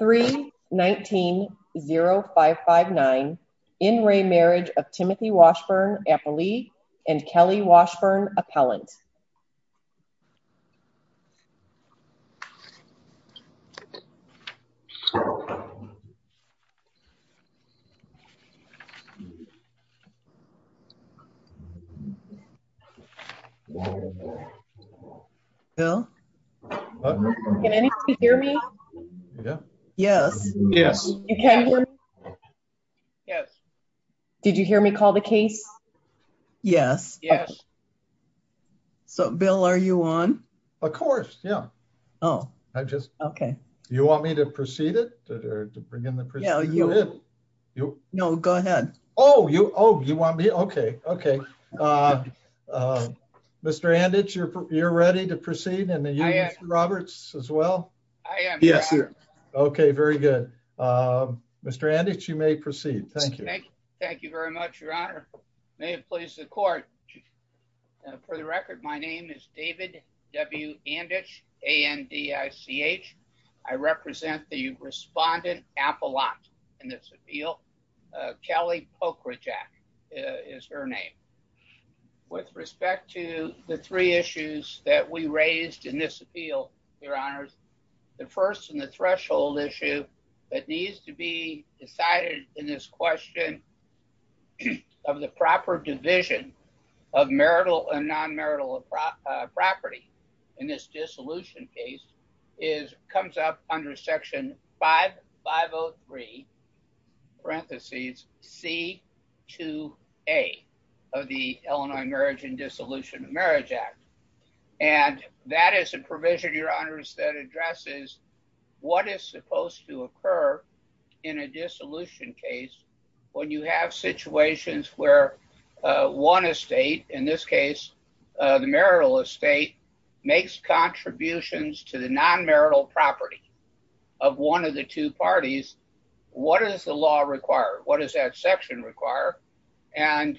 3-19-0559 In re Marriage of Timothy Washburn-Appley and Kelly Washburn-Appellant Yes, yes. Yes. Yes. Yes. Did you hear me call the case? Yes, yes. So Bill, are you on? Of course, yeah. Oh, I just okay. You want me to proceed it to bring in the present? You know, go ahead. Oh, you Oh, you want me? Okay. Okay. Mr. And it's you're, you're ready to proceed and the Okay, very good. Mr. And it's you may proceed. Thank you. Thank you. Thank you very much. Your honor, may it please the court. For the record, my name is David W. And it's a NDI CH. I represent the respondent apple lot. And that's appeal. Kelly poker jack is her name. With respect to the three issues that we raised in this appeal, your honors, the first and the threshold issue that needs to be decided in this question of the proper division of marital and non marital property in this dissolution case is comes up under section five 503, parentheses, c to a of the Illinois marriage and dissolution of marriage act. And that is a provision, your honors that addresses what is supposed to occur in a dissolution case, when you have situations where one estate in this case, the marital estate makes contributions to the non section require and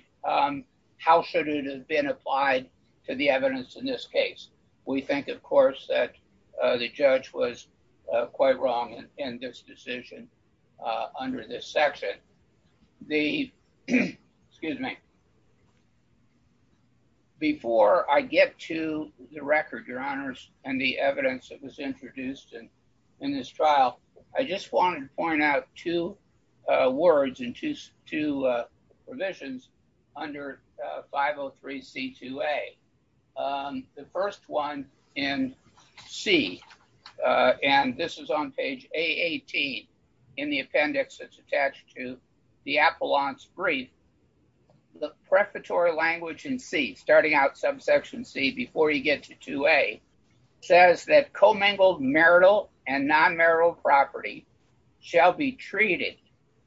how should it have been applied to the evidence in this case, we think, of course, that the judge was quite wrong in this decision. Under this section, the excuse me. Before I get to the record, your honors, and the evidence that was introduced in this trial, I just wanted to point out two words and two provisions under 503 c to a. The first one in C, and this is on page a 18. In the appendix, it's attached to the appellant's brief, the preparatory language and see starting out subsection C before you get to a says that marital and non marital property shall be treated.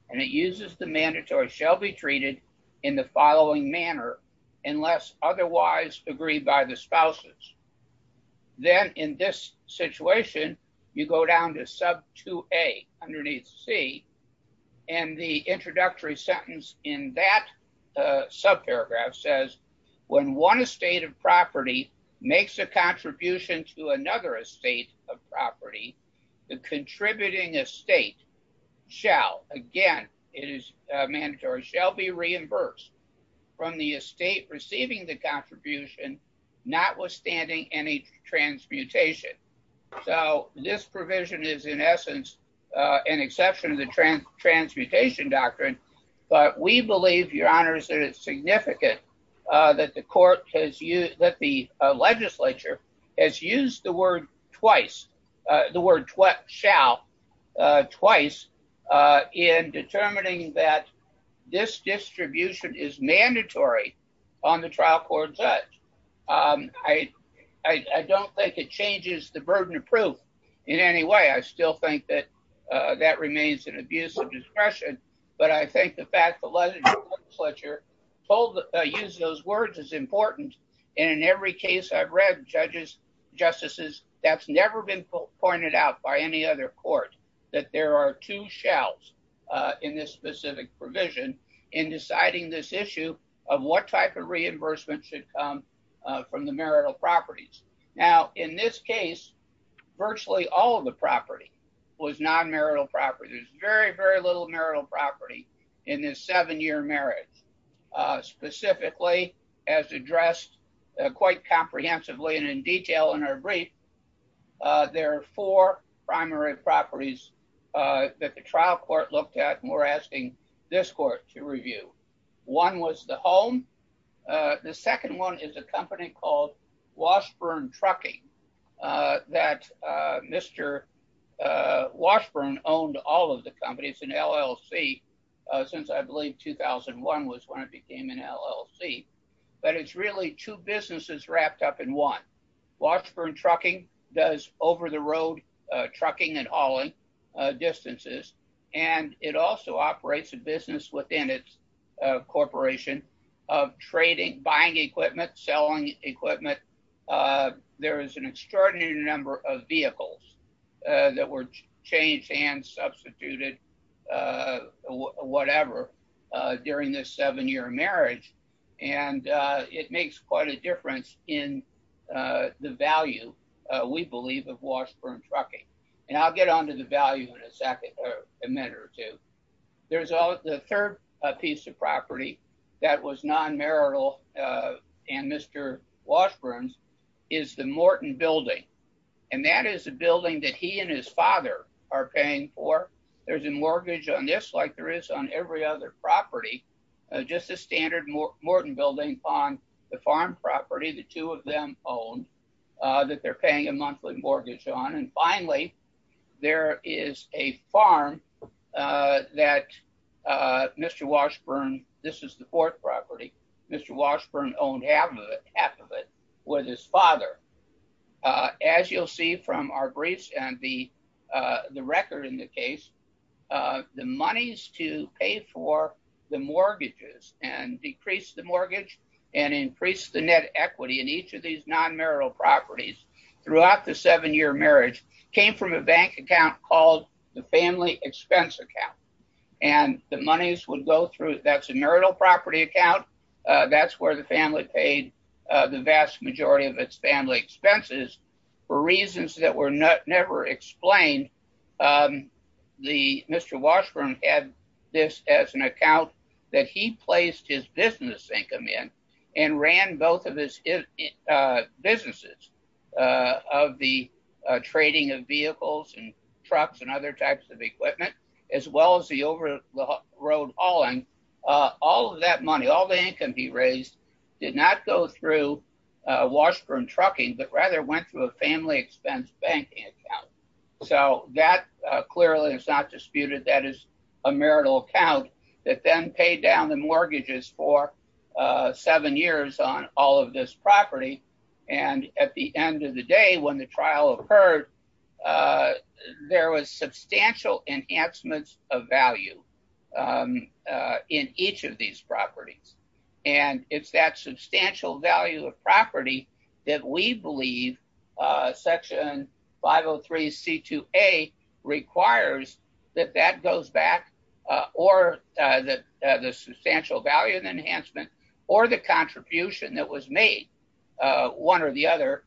And it uses the mandatory shall be treated in the following manner, unless otherwise agreed by the spouses. Then in this situation, you go down to sub to a underneath C. And the introductory sentence in that sub paragraph says, when one estate of property makes a contribution to another estate of property, the contributing estate shall again, it is mandatory shall be reimbursed from the estate receiving the contribution, notwithstanding any transmutation. So this provision is in essence, an exception to transmutation doctrine. But we believe your honors that it's significant that the court has used that the legislature has used the word twice, the word what shall twice in determining that this distribution is mandatory on the trial court judge. I don't think it changes the burden of in any way, I still think that that remains an abuse of discretion. But I think the fact that let's let your folder use those words is important. And in every case I've read judges, justices, that's never been pointed out by any other court, that there are two shells in this specific provision in deciding this issue of what type of reimbursement should come from the marital properties. Now, in this case, virtually all of the property was non marital property, there's very, very little marital property in this seven year marriage. Specifically, as addressed quite comprehensively, and in detail in our brief, there are four primary properties that the trial court looked at, and we're asking this court to review. One was the home. The second one is a company called Washburn Trucking, that Mr. Washburn owned all of the companies in LLC, since I believe 2001 was when it became an LLC. But it's really two businesses wrapped up in one. Washburn Trucking does over the road, trucking and hauling distances. And it also operates a business within its corporation of trading, buying equipment, selling equipment. There is an extraordinary number of vehicles that were changed and substituted, whatever, during this seven year marriage. And it makes quite a difference in the value, we believe of Washburn Trucking. And I'll get on to the value in a second, a minute or two. There's the third piece of property that was non marital. And Mr. Washburn's is the Morton building. And that is a building that he and his father are paying for. There's a mortgage on this like there is on every other property, just a standard Morton building on the farm property, the two of them own that they're paying a monthly mortgage on. And finally, there is a farm that Mr. Washburn, this is the fourth property, Mr. Washburn owned half of it with his father. As you'll see from our briefs and the record in the case, the monies to pay for the mortgages and decrease the mortgage and increase the net equity in each of these non marital properties throughout the seven year marriage came from a bank account called the family expense account. And the monies would go through that's a marital property account. That's where the family paid the vast majority of its family expenses. For reasons that were not never explained. The Mr. Washburn had this as an account that he placed his business income in and ran both of his businesses of the trading of vehicles and trucks and other types of equipment, as well as the over the road hauling. All of that money, all the income he raised, did not go through Washburn trucking, but rather went through a family expense banking account. So that clearly is not disputed. That is a marital account that then paid down the mortgages for seven years on all of this property. And at the end of the day, when the trial occurred, there was substantial enhancements of value in each of these properties. And it's that substantial value of property that we believe section 503 C2A requires that that goes back or that the substantial value of the enhancement or the contribution that was made one or the other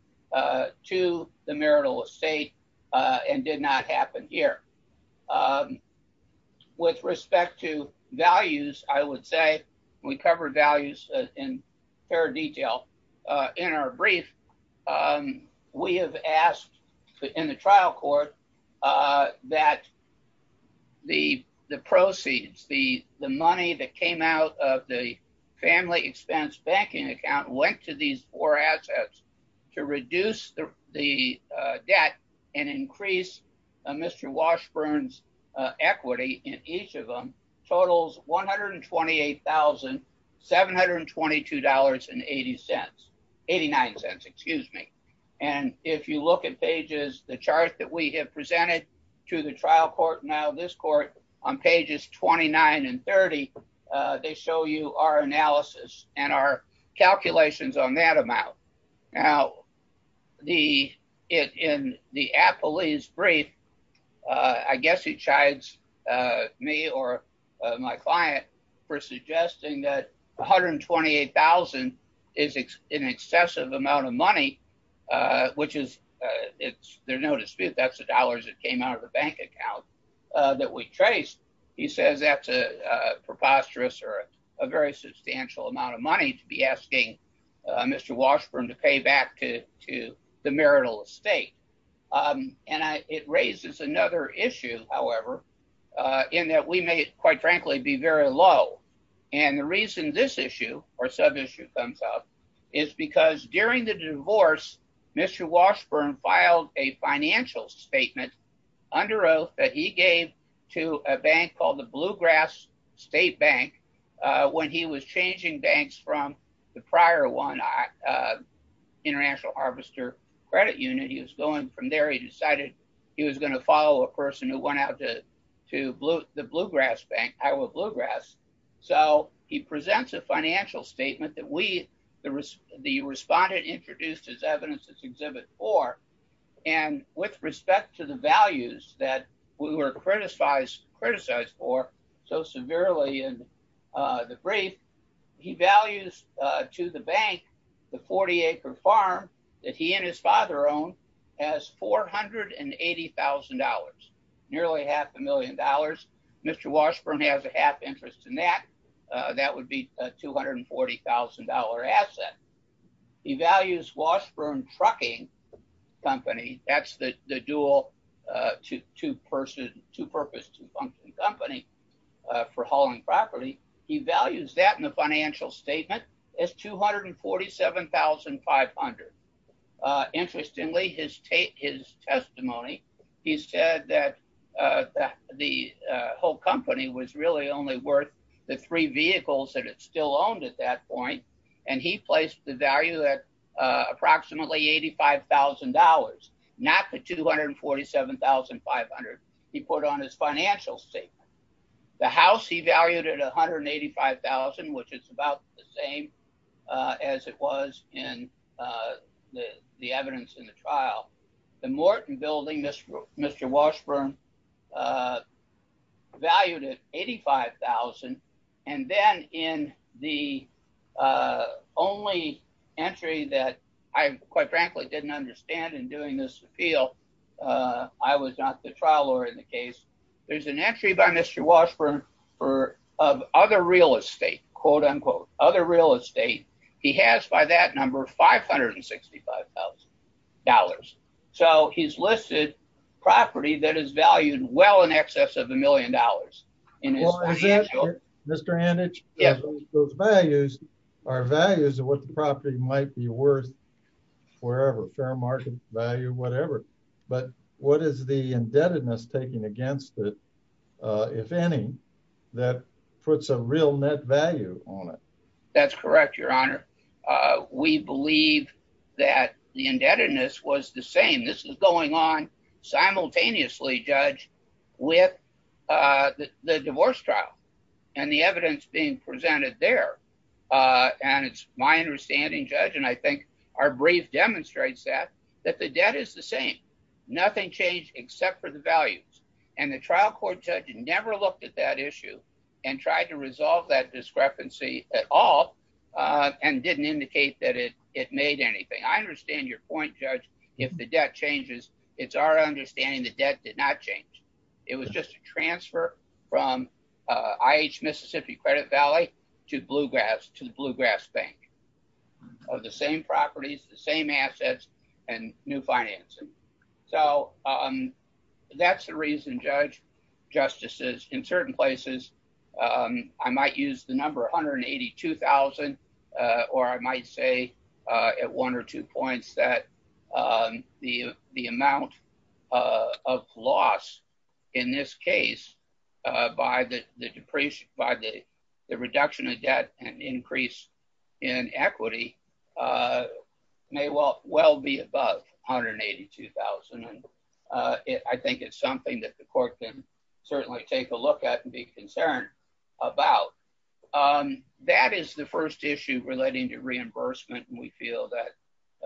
to the marital estate and did not happen here. With respect to values, I would say we cover values in fair detail. In our brief, um, we have asked in the trial court, uh, that the, the proceeds, the, the money that came out of the family expense banking account went to these four assets to reduce the, the debt and increase, uh, Mr. Washburn's, uh, equity in each of them totals $128,722 and 80 cents, 89 cents, excuse me. And if you look at pages, the chart that we have presented to the trial court, now this court on pages 29 and 30, uh, they show you our analysis and our calculations on that amount. Now the, it, in the app police brief, uh, I guess he chides, uh, me or, uh, my client for suggesting that 128,000 is an excessive amount of money, uh, which is, uh, it's, there's no dispute. That's the dollars that came out of the bank account, uh, that we traced. He says that's a preposterous or a very substantial amount of money to be asking Mr. Washburn to pay back to, to the marital estate. Um, and I, it raises another issue, however, uh, in that we may quite frankly be very low. And the reason this issue or sub issue comes up is because during the divorce, Mr. Washburn filed a financial statement under oath that he called the bluegrass state bank. Uh, when he was changing banks from the prior one, uh, international harvester credit unit, he was going from there. He decided he was going to follow a person who went out to, to blue, the bluegrass bank, Iowa bluegrass. So he presents a financial statement that we, there was the respondent introduced his evidence, his exhibit or, and with respect to the values that we were criticized, criticized for so severely in, uh, the brief, he values, uh, to the bank, the 40 acre farm that he and his father own has $480,000, nearly half a million dollars. Mr. Washburn has a half interest in that, uh, that would be a $240,000 asset. He values Washburn trucking company. That's the, the dual, uh, two, two person, two purpose, two function company, uh, for hauling property. He values that in the financial statement is 247,500. Uh, interestingly, his tape, his testimony, he said that, uh, that the, uh, whole company was really only worth the three vehicles that it's still owned at that point. And he placed the value at, uh, approximately $85,000, not the 247,500. He put on his financial statement, the house he valued at 185,000, which is about the same, uh, as it was in, uh, the, the evidence in the trial, the Morton building, Mr. Mr. Washburn, uh, valued at 85,000. And then in the, uh, only entry that I quite frankly, didn't understand in doing this appeal, uh, I was not the trial lawyer in the case. There's an entry by Mr. Washburn for, of other real estate, quote unquote, other real estate. He has by that number of $565,000. So he's listed property that is valued well in excess of a million dollars. Mr. And it's values are values of what the property might be worth wherever fair market value, whatever, but what is the indebtedness taking against it? Uh, if any, that puts a real net value on it. That's correct. Your honor. Uh, we believe that the indebtedness was the same. This is going on simultaneously judge with, uh, the divorce trial and the evidence being presented there. Uh, and it's my understanding judge. And I think our brief demonstrates that, that the debt is the same, nothing changed except for the values and the trial court judge never looked at that issue and tried to resolve that it made anything. I understand your point judge. If the debt changes, it's our understanding that debt did not change. It was just a transfer from, uh, IH Mississippi credit Valley to bluegrass, to the bluegrass bank of the same properties, the same assets and new financing. So, um, that's the reason judge justices in certain places. Um, I might use the number 182,000, uh, or I might say, uh, at one or two points that, um, the, the amount, uh, of loss in this case, uh, by the depreciation, by the reduction of debt and increase in equity, uh, may well, well be above 182,000. And, uh, I think it's something that the court can take a look at and be concerned about. Um, that is the first issue relating to reimbursement. And we feel that,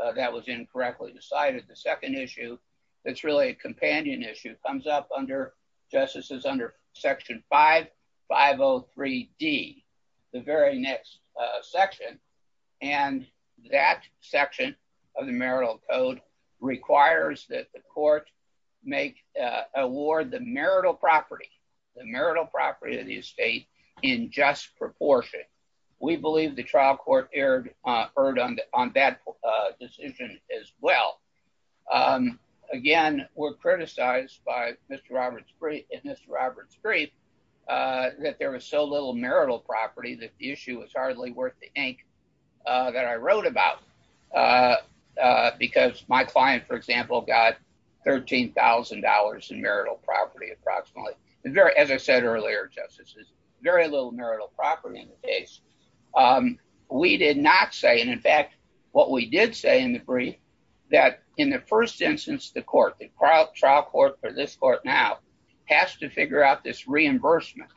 uh, that was incorrectly decided. The second issue that's really a companion issue comes up under justices under section five, five Oh three D the very next section. And that section of the marital code requires that the court make, uh, award the marital property, the marital property of the estate in just proportion. We believe the trial court aired, uh, heard on, on that, uh, decision as well. Um, again, we're criticized by Mr. Roberts three and Mr. Roberts three, uh, that there was so little marital property, that the issue was hardly worth the ink that I wrote about. Uh, uh, because my client, for example, got $13,000 in marital property, approximately as I said earlier, justices, very little marital property in the case. Um, we did not say, and in fact, what we did say in the brief that in the first instance, the court, the trial trial court for this court now has to figure out this reimbursement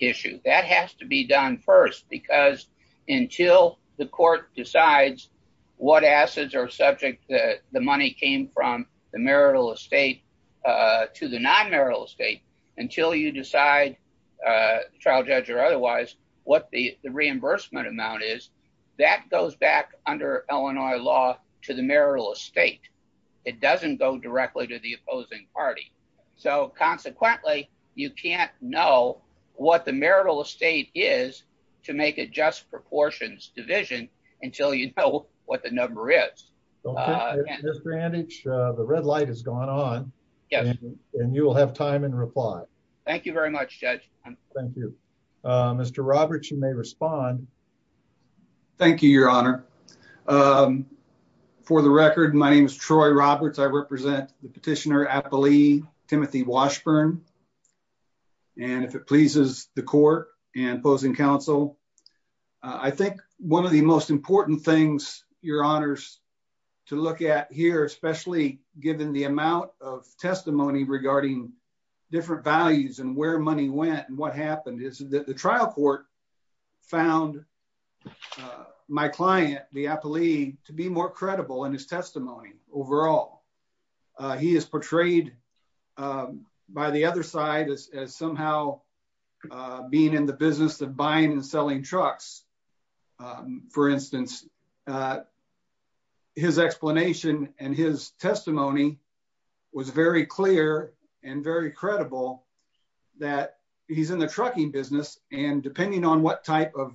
issue that has to be done first, because until the court decides what assets are subject, the money came from the marital estate, uh, to the non marital estate until you decide, uh, trial judge or otherwise, what the reimbursement amount is that goes back under Illinois law to the marital estate. It doesn't go directly to the opposing party. So consequently, you can't know what the marital estate is to make a just proportions division until you know what the number is. Mr. And each the red light has gone on, and you will have time and reply. Thank you very much, Judge. Thank you, Mr. Roberts. You may respond. Thank you, Your Honor. Um, for the record, my name is Troy Roberts. I represent the petitioner, Appley Timothy Washburn. And if it pleases the court and opposing counsel, I think one of the most important things your honors to look at here, especially given the amount of testimony regarding different values and where money went and what happened is that trial court found my client, the Appley to be more credible in his testimony. Overall, he is portrayed by the other side as somehow being in the business of buying and selling trucks. For instance, his explanation and his testimony was very clear and very credible that he's in the trucking business. And depending on what type of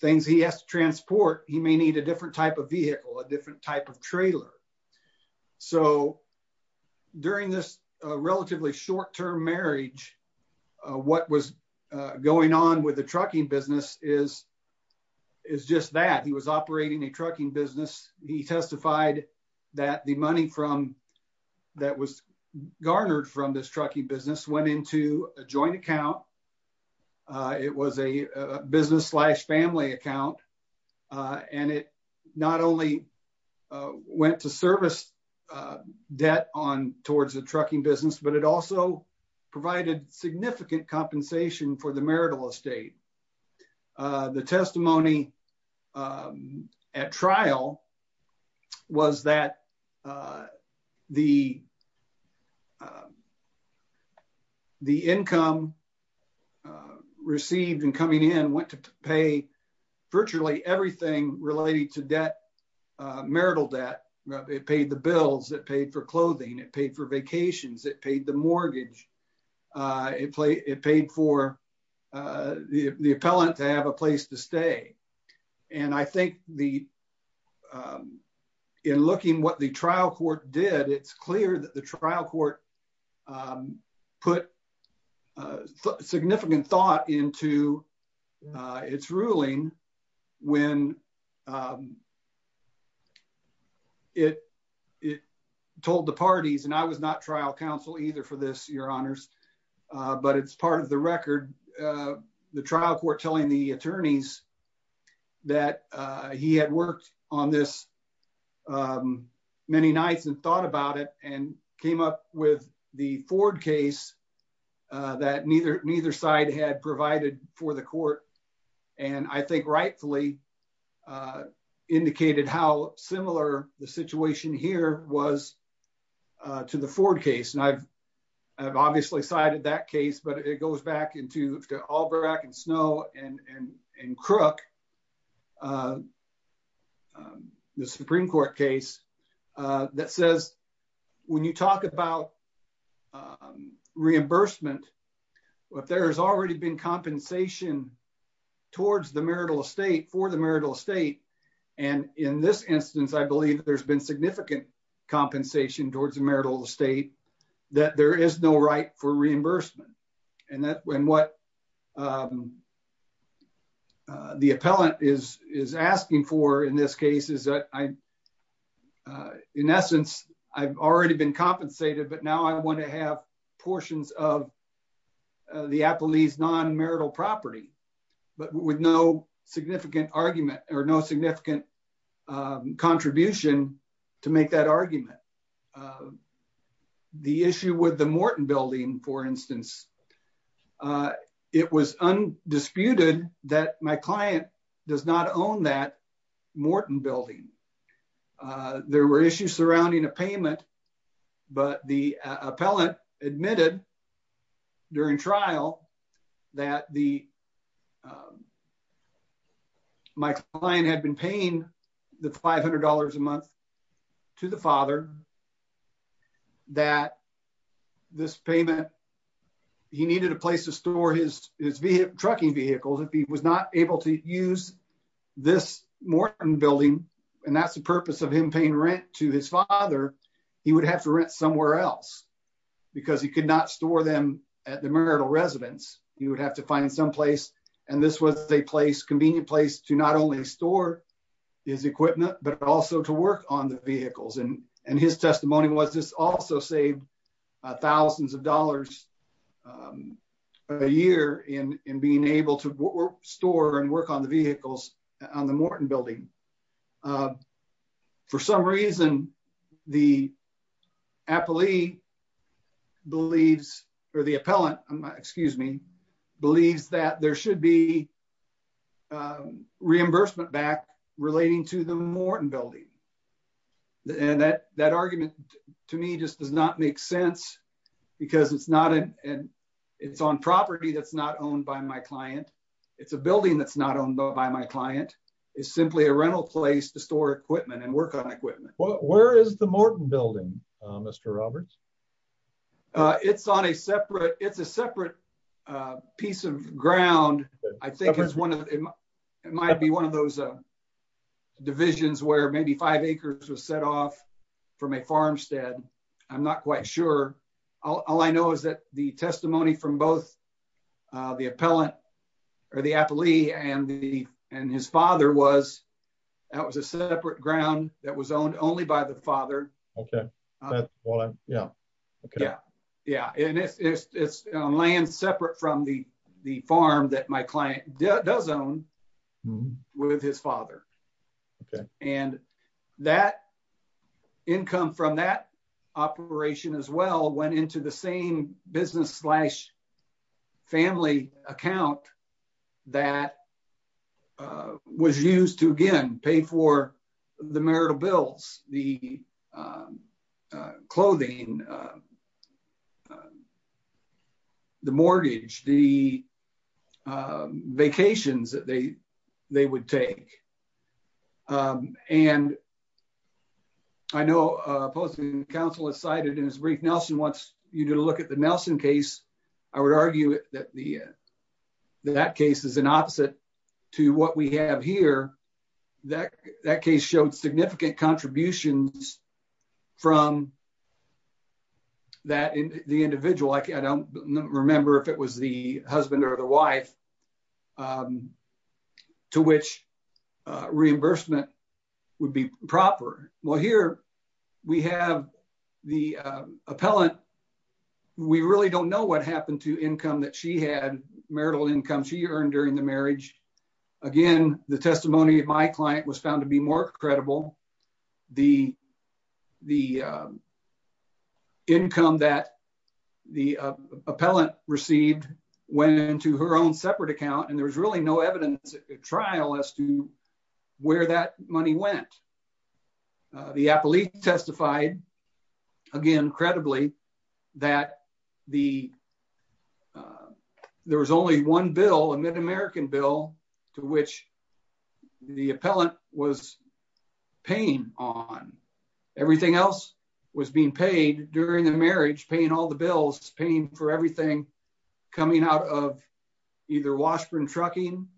things he has to transport, he may need a different type of vehicle, a different type of trailer. So during this relatively short term marriage, what was going on with the trucking business is is just that he was operating a trucking business. He testified that the money from that was garnered from this trucking business went into a joint account. It was a business slash family account. And it not only went to service debt on towards the trucking business, but it also provided significant compensation for the marital estate. The testimony at trial was that the the income received and coming in went to pay virtually everything related to debt, marital debt. It paid the bills that paid for clothing. It paid for vacations. It paid the in looking what the trial court did. It's clear that the trial court put significant thought into its ruling when it it told the parties and I was not trial counsel either for this, Your Honors. But it's part of the record. The trial court telling the attorneys that he had worked on this many nights and thought about it and came up with the Ford case that neither neither side had provided for the court. And I think rightfully indicated how similar the situation here was to the Ford case. And I've I've obviously cited that case, but it goes back to Albrecht and Snow and Crook. The Supreme Court case that says when you talk about reimbursement, but there has already been compensation towards the marital estate for the marital estate. And in this instance, I believe there's been significant compensation towards the marital estate that there is no right for reimbursement. And that when what the appellant is is asking for in this case is that I'm in essence, I've already been compensated. But now I want to have portions of the Applebee's non marital property, but with no significant argument or no significant contribution to make that argument. The issue with the Morton building, for instance, it was undisputed that my client does not own that Morton building. There were issues surrounding a payment, but the appellant admitted during trial that the my client had been paying the $500 a month to the father that this payment, he needed a place to store his his vehicle, trucking vehicles. If he was not able to use this Morton building, and that's the purpose of him paying rent to his father, he would have to rent somewhere else because he could not store them at the marital residence. He would have to find some place. And this was a place convenient place to not only store his equipment, but also to work on the vehicles. And his testimony was this also saved thousands of dollars a year in being able to store and work on the vehicles on the Morton building. For some reason, the Applebee believes or the appellant, excuse me, believes that there should be reimbursement back relating to the Morton building. And that argument to me just does not make sense because it's on property that's not owned by my client. It's a building that's not owned by my client. It's simply a rental place to store equipment and work on equipment. Where is the Morton building, Mr. Roberts? It's on a separate, it's a separate piece of ground. I think it's one of, it might be one of those divisions where maybe five acres was set off from a farmstead. I'm not quite sure. All I know is that the testimony from both the appellant or the appellee and his father was, that was a separate ground that was owned only by the father. And it's on land separate from the farm that my client does own with his father. And that income from that operation as well went into the same business slash family account that was used to, again, pay for the marital bills, the clothing, the mortgage, the vacations that they would take. And I know opposing counsel has cited in his brief, Nelson wants you to look at the Nelson case. I would argue that that case is an opposite to what we have here. That case showed significant contributions from the individual. I don't remember if it was the husband or the wife to which reimbursement would be proper. Well, here we have the appellant. We really don't know what happened to income that she had, marital income she earned during the marriage. Again, the testimony of my client was found to be more credible. The income that the appellant received went into her own separate account and there was really no evidence at trial as to where that money went. The appellee testified, again, credibly that there was only one bill, a mid-American bill, to which the appellant was paying on. Everything else was being paid during the marriage, paying all the bills, paying for everything coming out of either Washburn Trucking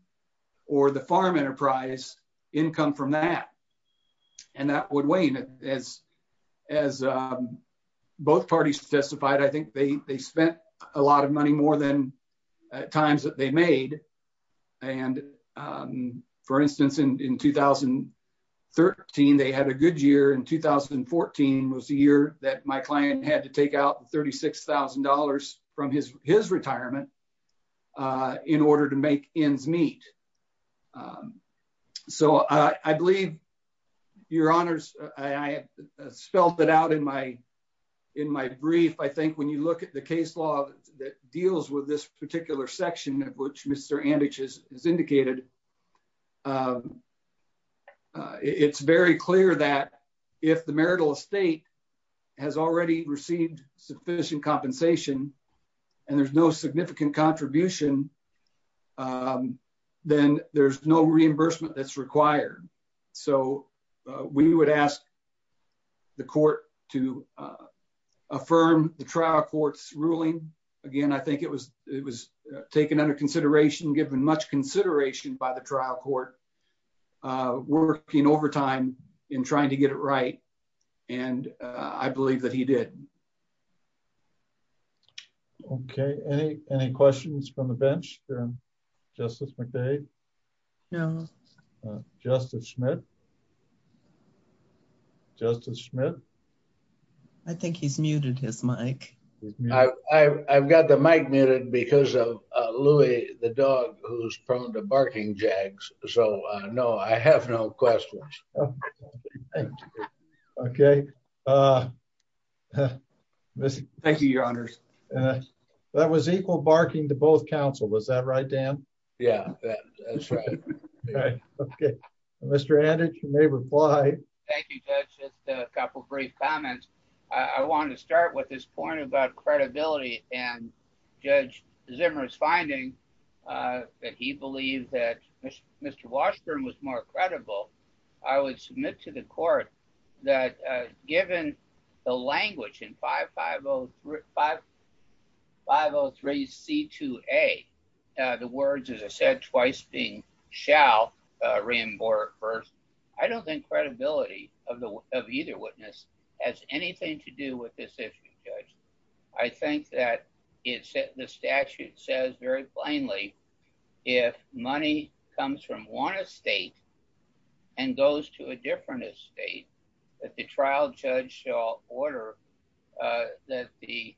or the farm enterprise, income from that. And that would wane. As both parties testified, I think they spent a lot of money more than at times that they made. And, for instance, in 2013, they had a good year. In 2014 was the year that my client had to take out $36,000 from his retirement in order to make ends meet. So I believe, your honors, I have spelled it out in my brief. I think when you look at the case law that deals with this particular section, which Mr. Andich has indicated, it's very clear that if the marital estate has already received sufficient compensation and there's no significant contribution, then there's no reimbursement that's required. So we would ask the court to give much consideration by the trial court, working overtime in trying to get it right. And I believe that he did. Okay. Any questions from the bench? Justice McCabe? No. Justice Smith? I think he's muted his mic. I've got the mic muted because of Louie, the dog, who's prone to barking jags. So, no, I have no questions. Okay. Thank you, your honors. That was equal barking to both counsel. Was that right, Dan? Yeah, that's right. Okay. Mr. Andich, you may reply. Thank you, Judge. Just a couple brief comments. I want to start with this point about credibility. And Judge Zimmer's finding that he believed that Mr. Washburn was more credible, I would submit to the court that given the language in 503C2A, the words, as I said, twice being shall, reimbursed, I don't think credibility of either witness has anything to do with this issue, Judge. I think that the statute says very plainly, if money comes from one estate and goes to a different estate, that the trial judge shall order that the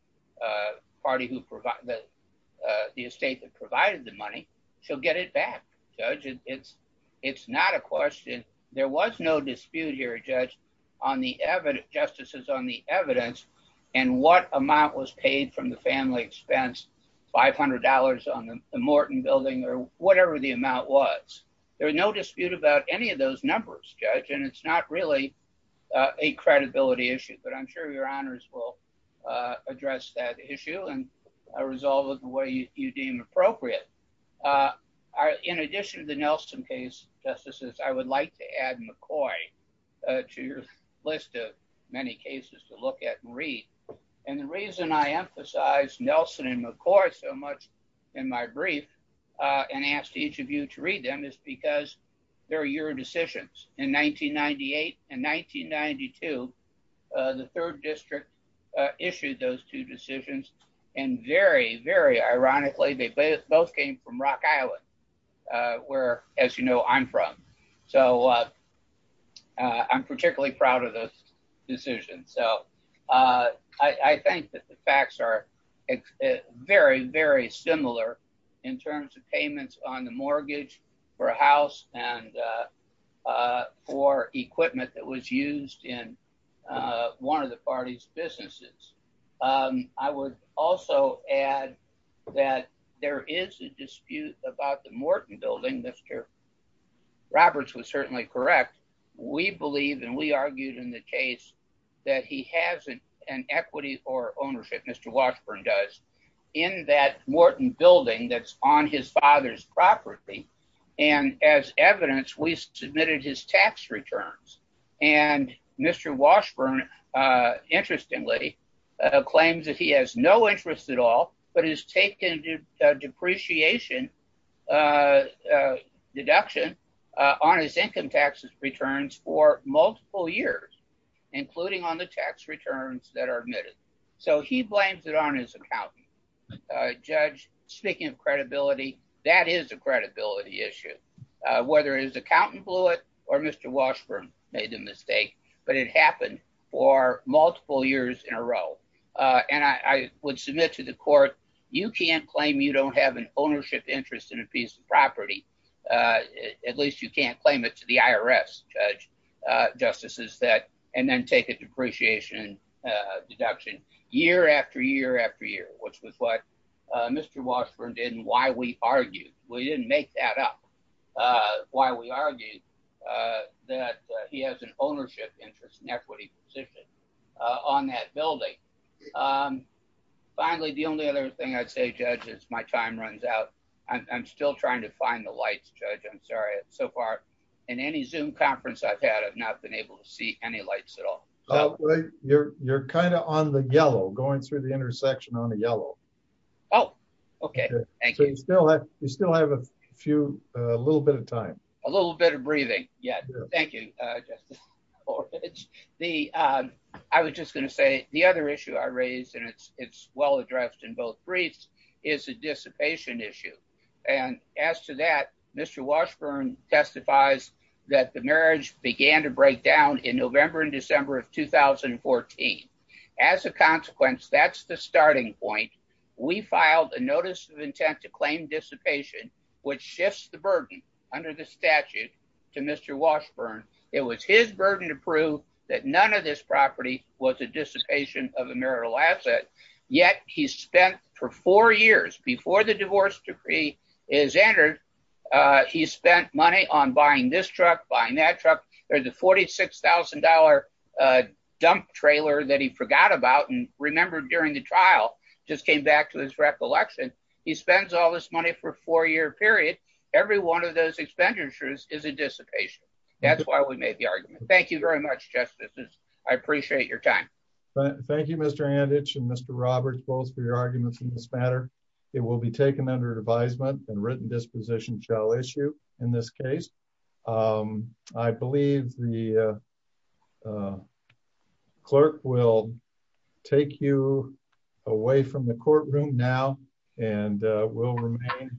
estate that provided the money shall get it back, Judge. It's not a question. There was no dispute here, Judge, justices on the evidence and what amount was paid from the family expense, $500 on the Morton building or whatever the amount was. There was no dispute about any of those numbers, Judge, and it's not really a credibility issue. But I'm sure your honors will address that issue and resolve it the way you deem appropriate. In addition to the Nelson case, justices, I would like to add McCoy to your list of many cases to look at and read. And the reason I emphasize Nelson and McCoy so much in my brief and ask each of you to read them is because they're your decisions. In 1998 and 1992, the third district issued those two decisions, and very, very ironically, they both came from Rock Island, where, as you know, I'm from. So I'm particularly proud of those decisions. So I think that the facts are very, very similar in terms of payments on the mortgage for a house and for equipment that was used in one of the parties' businesses. I would also add that there is a dispute about the Morton building. Mr. Roberts was certainly correct. We believe and we argued in the case that he has an equity or ownership, Mr. Washburn does, in that Morton building that's on his father's property. And as evidence, we submitted his tax returns. And Mr. Washburn, interestingly, claims that he has no interest at all, but has taken a depreciation deduction on his income taxes returns for multiple years, including on the tax returns that are admitted. So he blames it on his accountant. Judge, speaking of credibility, that is a credibility issue. Whether his accountant blew it, or Mr. Washburn made the mistake, but it happened for multiple years in a row. And I would submit to the court, you can't claim you don't have an ownership interest in a piece of property. At least you can't claim it to the IRS, Judge. And then take a depreciation deduction year after year after year, which was what Mr. Washburn did and why we argued. We didn't make that up. Why we argued that he has an ownership interest and equity position on that building. Finally, the only other thing I'd say, Judge, as my time runs out, I'm still trying to find the lights, Judge. I'm in any Zoom conference I've had, I've not been able to see any lights at all. You're kind of on the yellow, going through the intersection on the yellow. Oh, okay. Thank you. You still have a few, a little bit of time. A little bit of breathing. Yeah. Thank you, Judge. I was just going to say the other issue I raised, and it's well addressed in both briefs, is a dissipation issue. And as to that, Mr. Washburn testifies that the marriage began to break down in November and December of 2014. As a consequence, that's the starting point. We filed a notice of intent to claim dissipation, which shifts the burden under the statute to Mr. Washburn. It was his burden to prove that none of this property was a dissipation of a marital asset. Yet he spent, for four years before the divorce decree is entered, he spent money on buying this truck, buying that truck. There's a $46,000 dump trailer that he forgot about and remembered during the trial, just came back to his recollection. He spends all this money for a four-year period. Every one of those expenditures is a dissipation. That's why we made the argument. Thank you very much, Justice. I appreciate your time. Thank you, Mr. Anditch and Mr. Roberts, both for your arguments in this matter. It will be taken under advisement and written disposition shall issue in this case. I believe the clerk will take you away from the courtroom now and will remain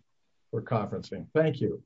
for conferencing. Thank you.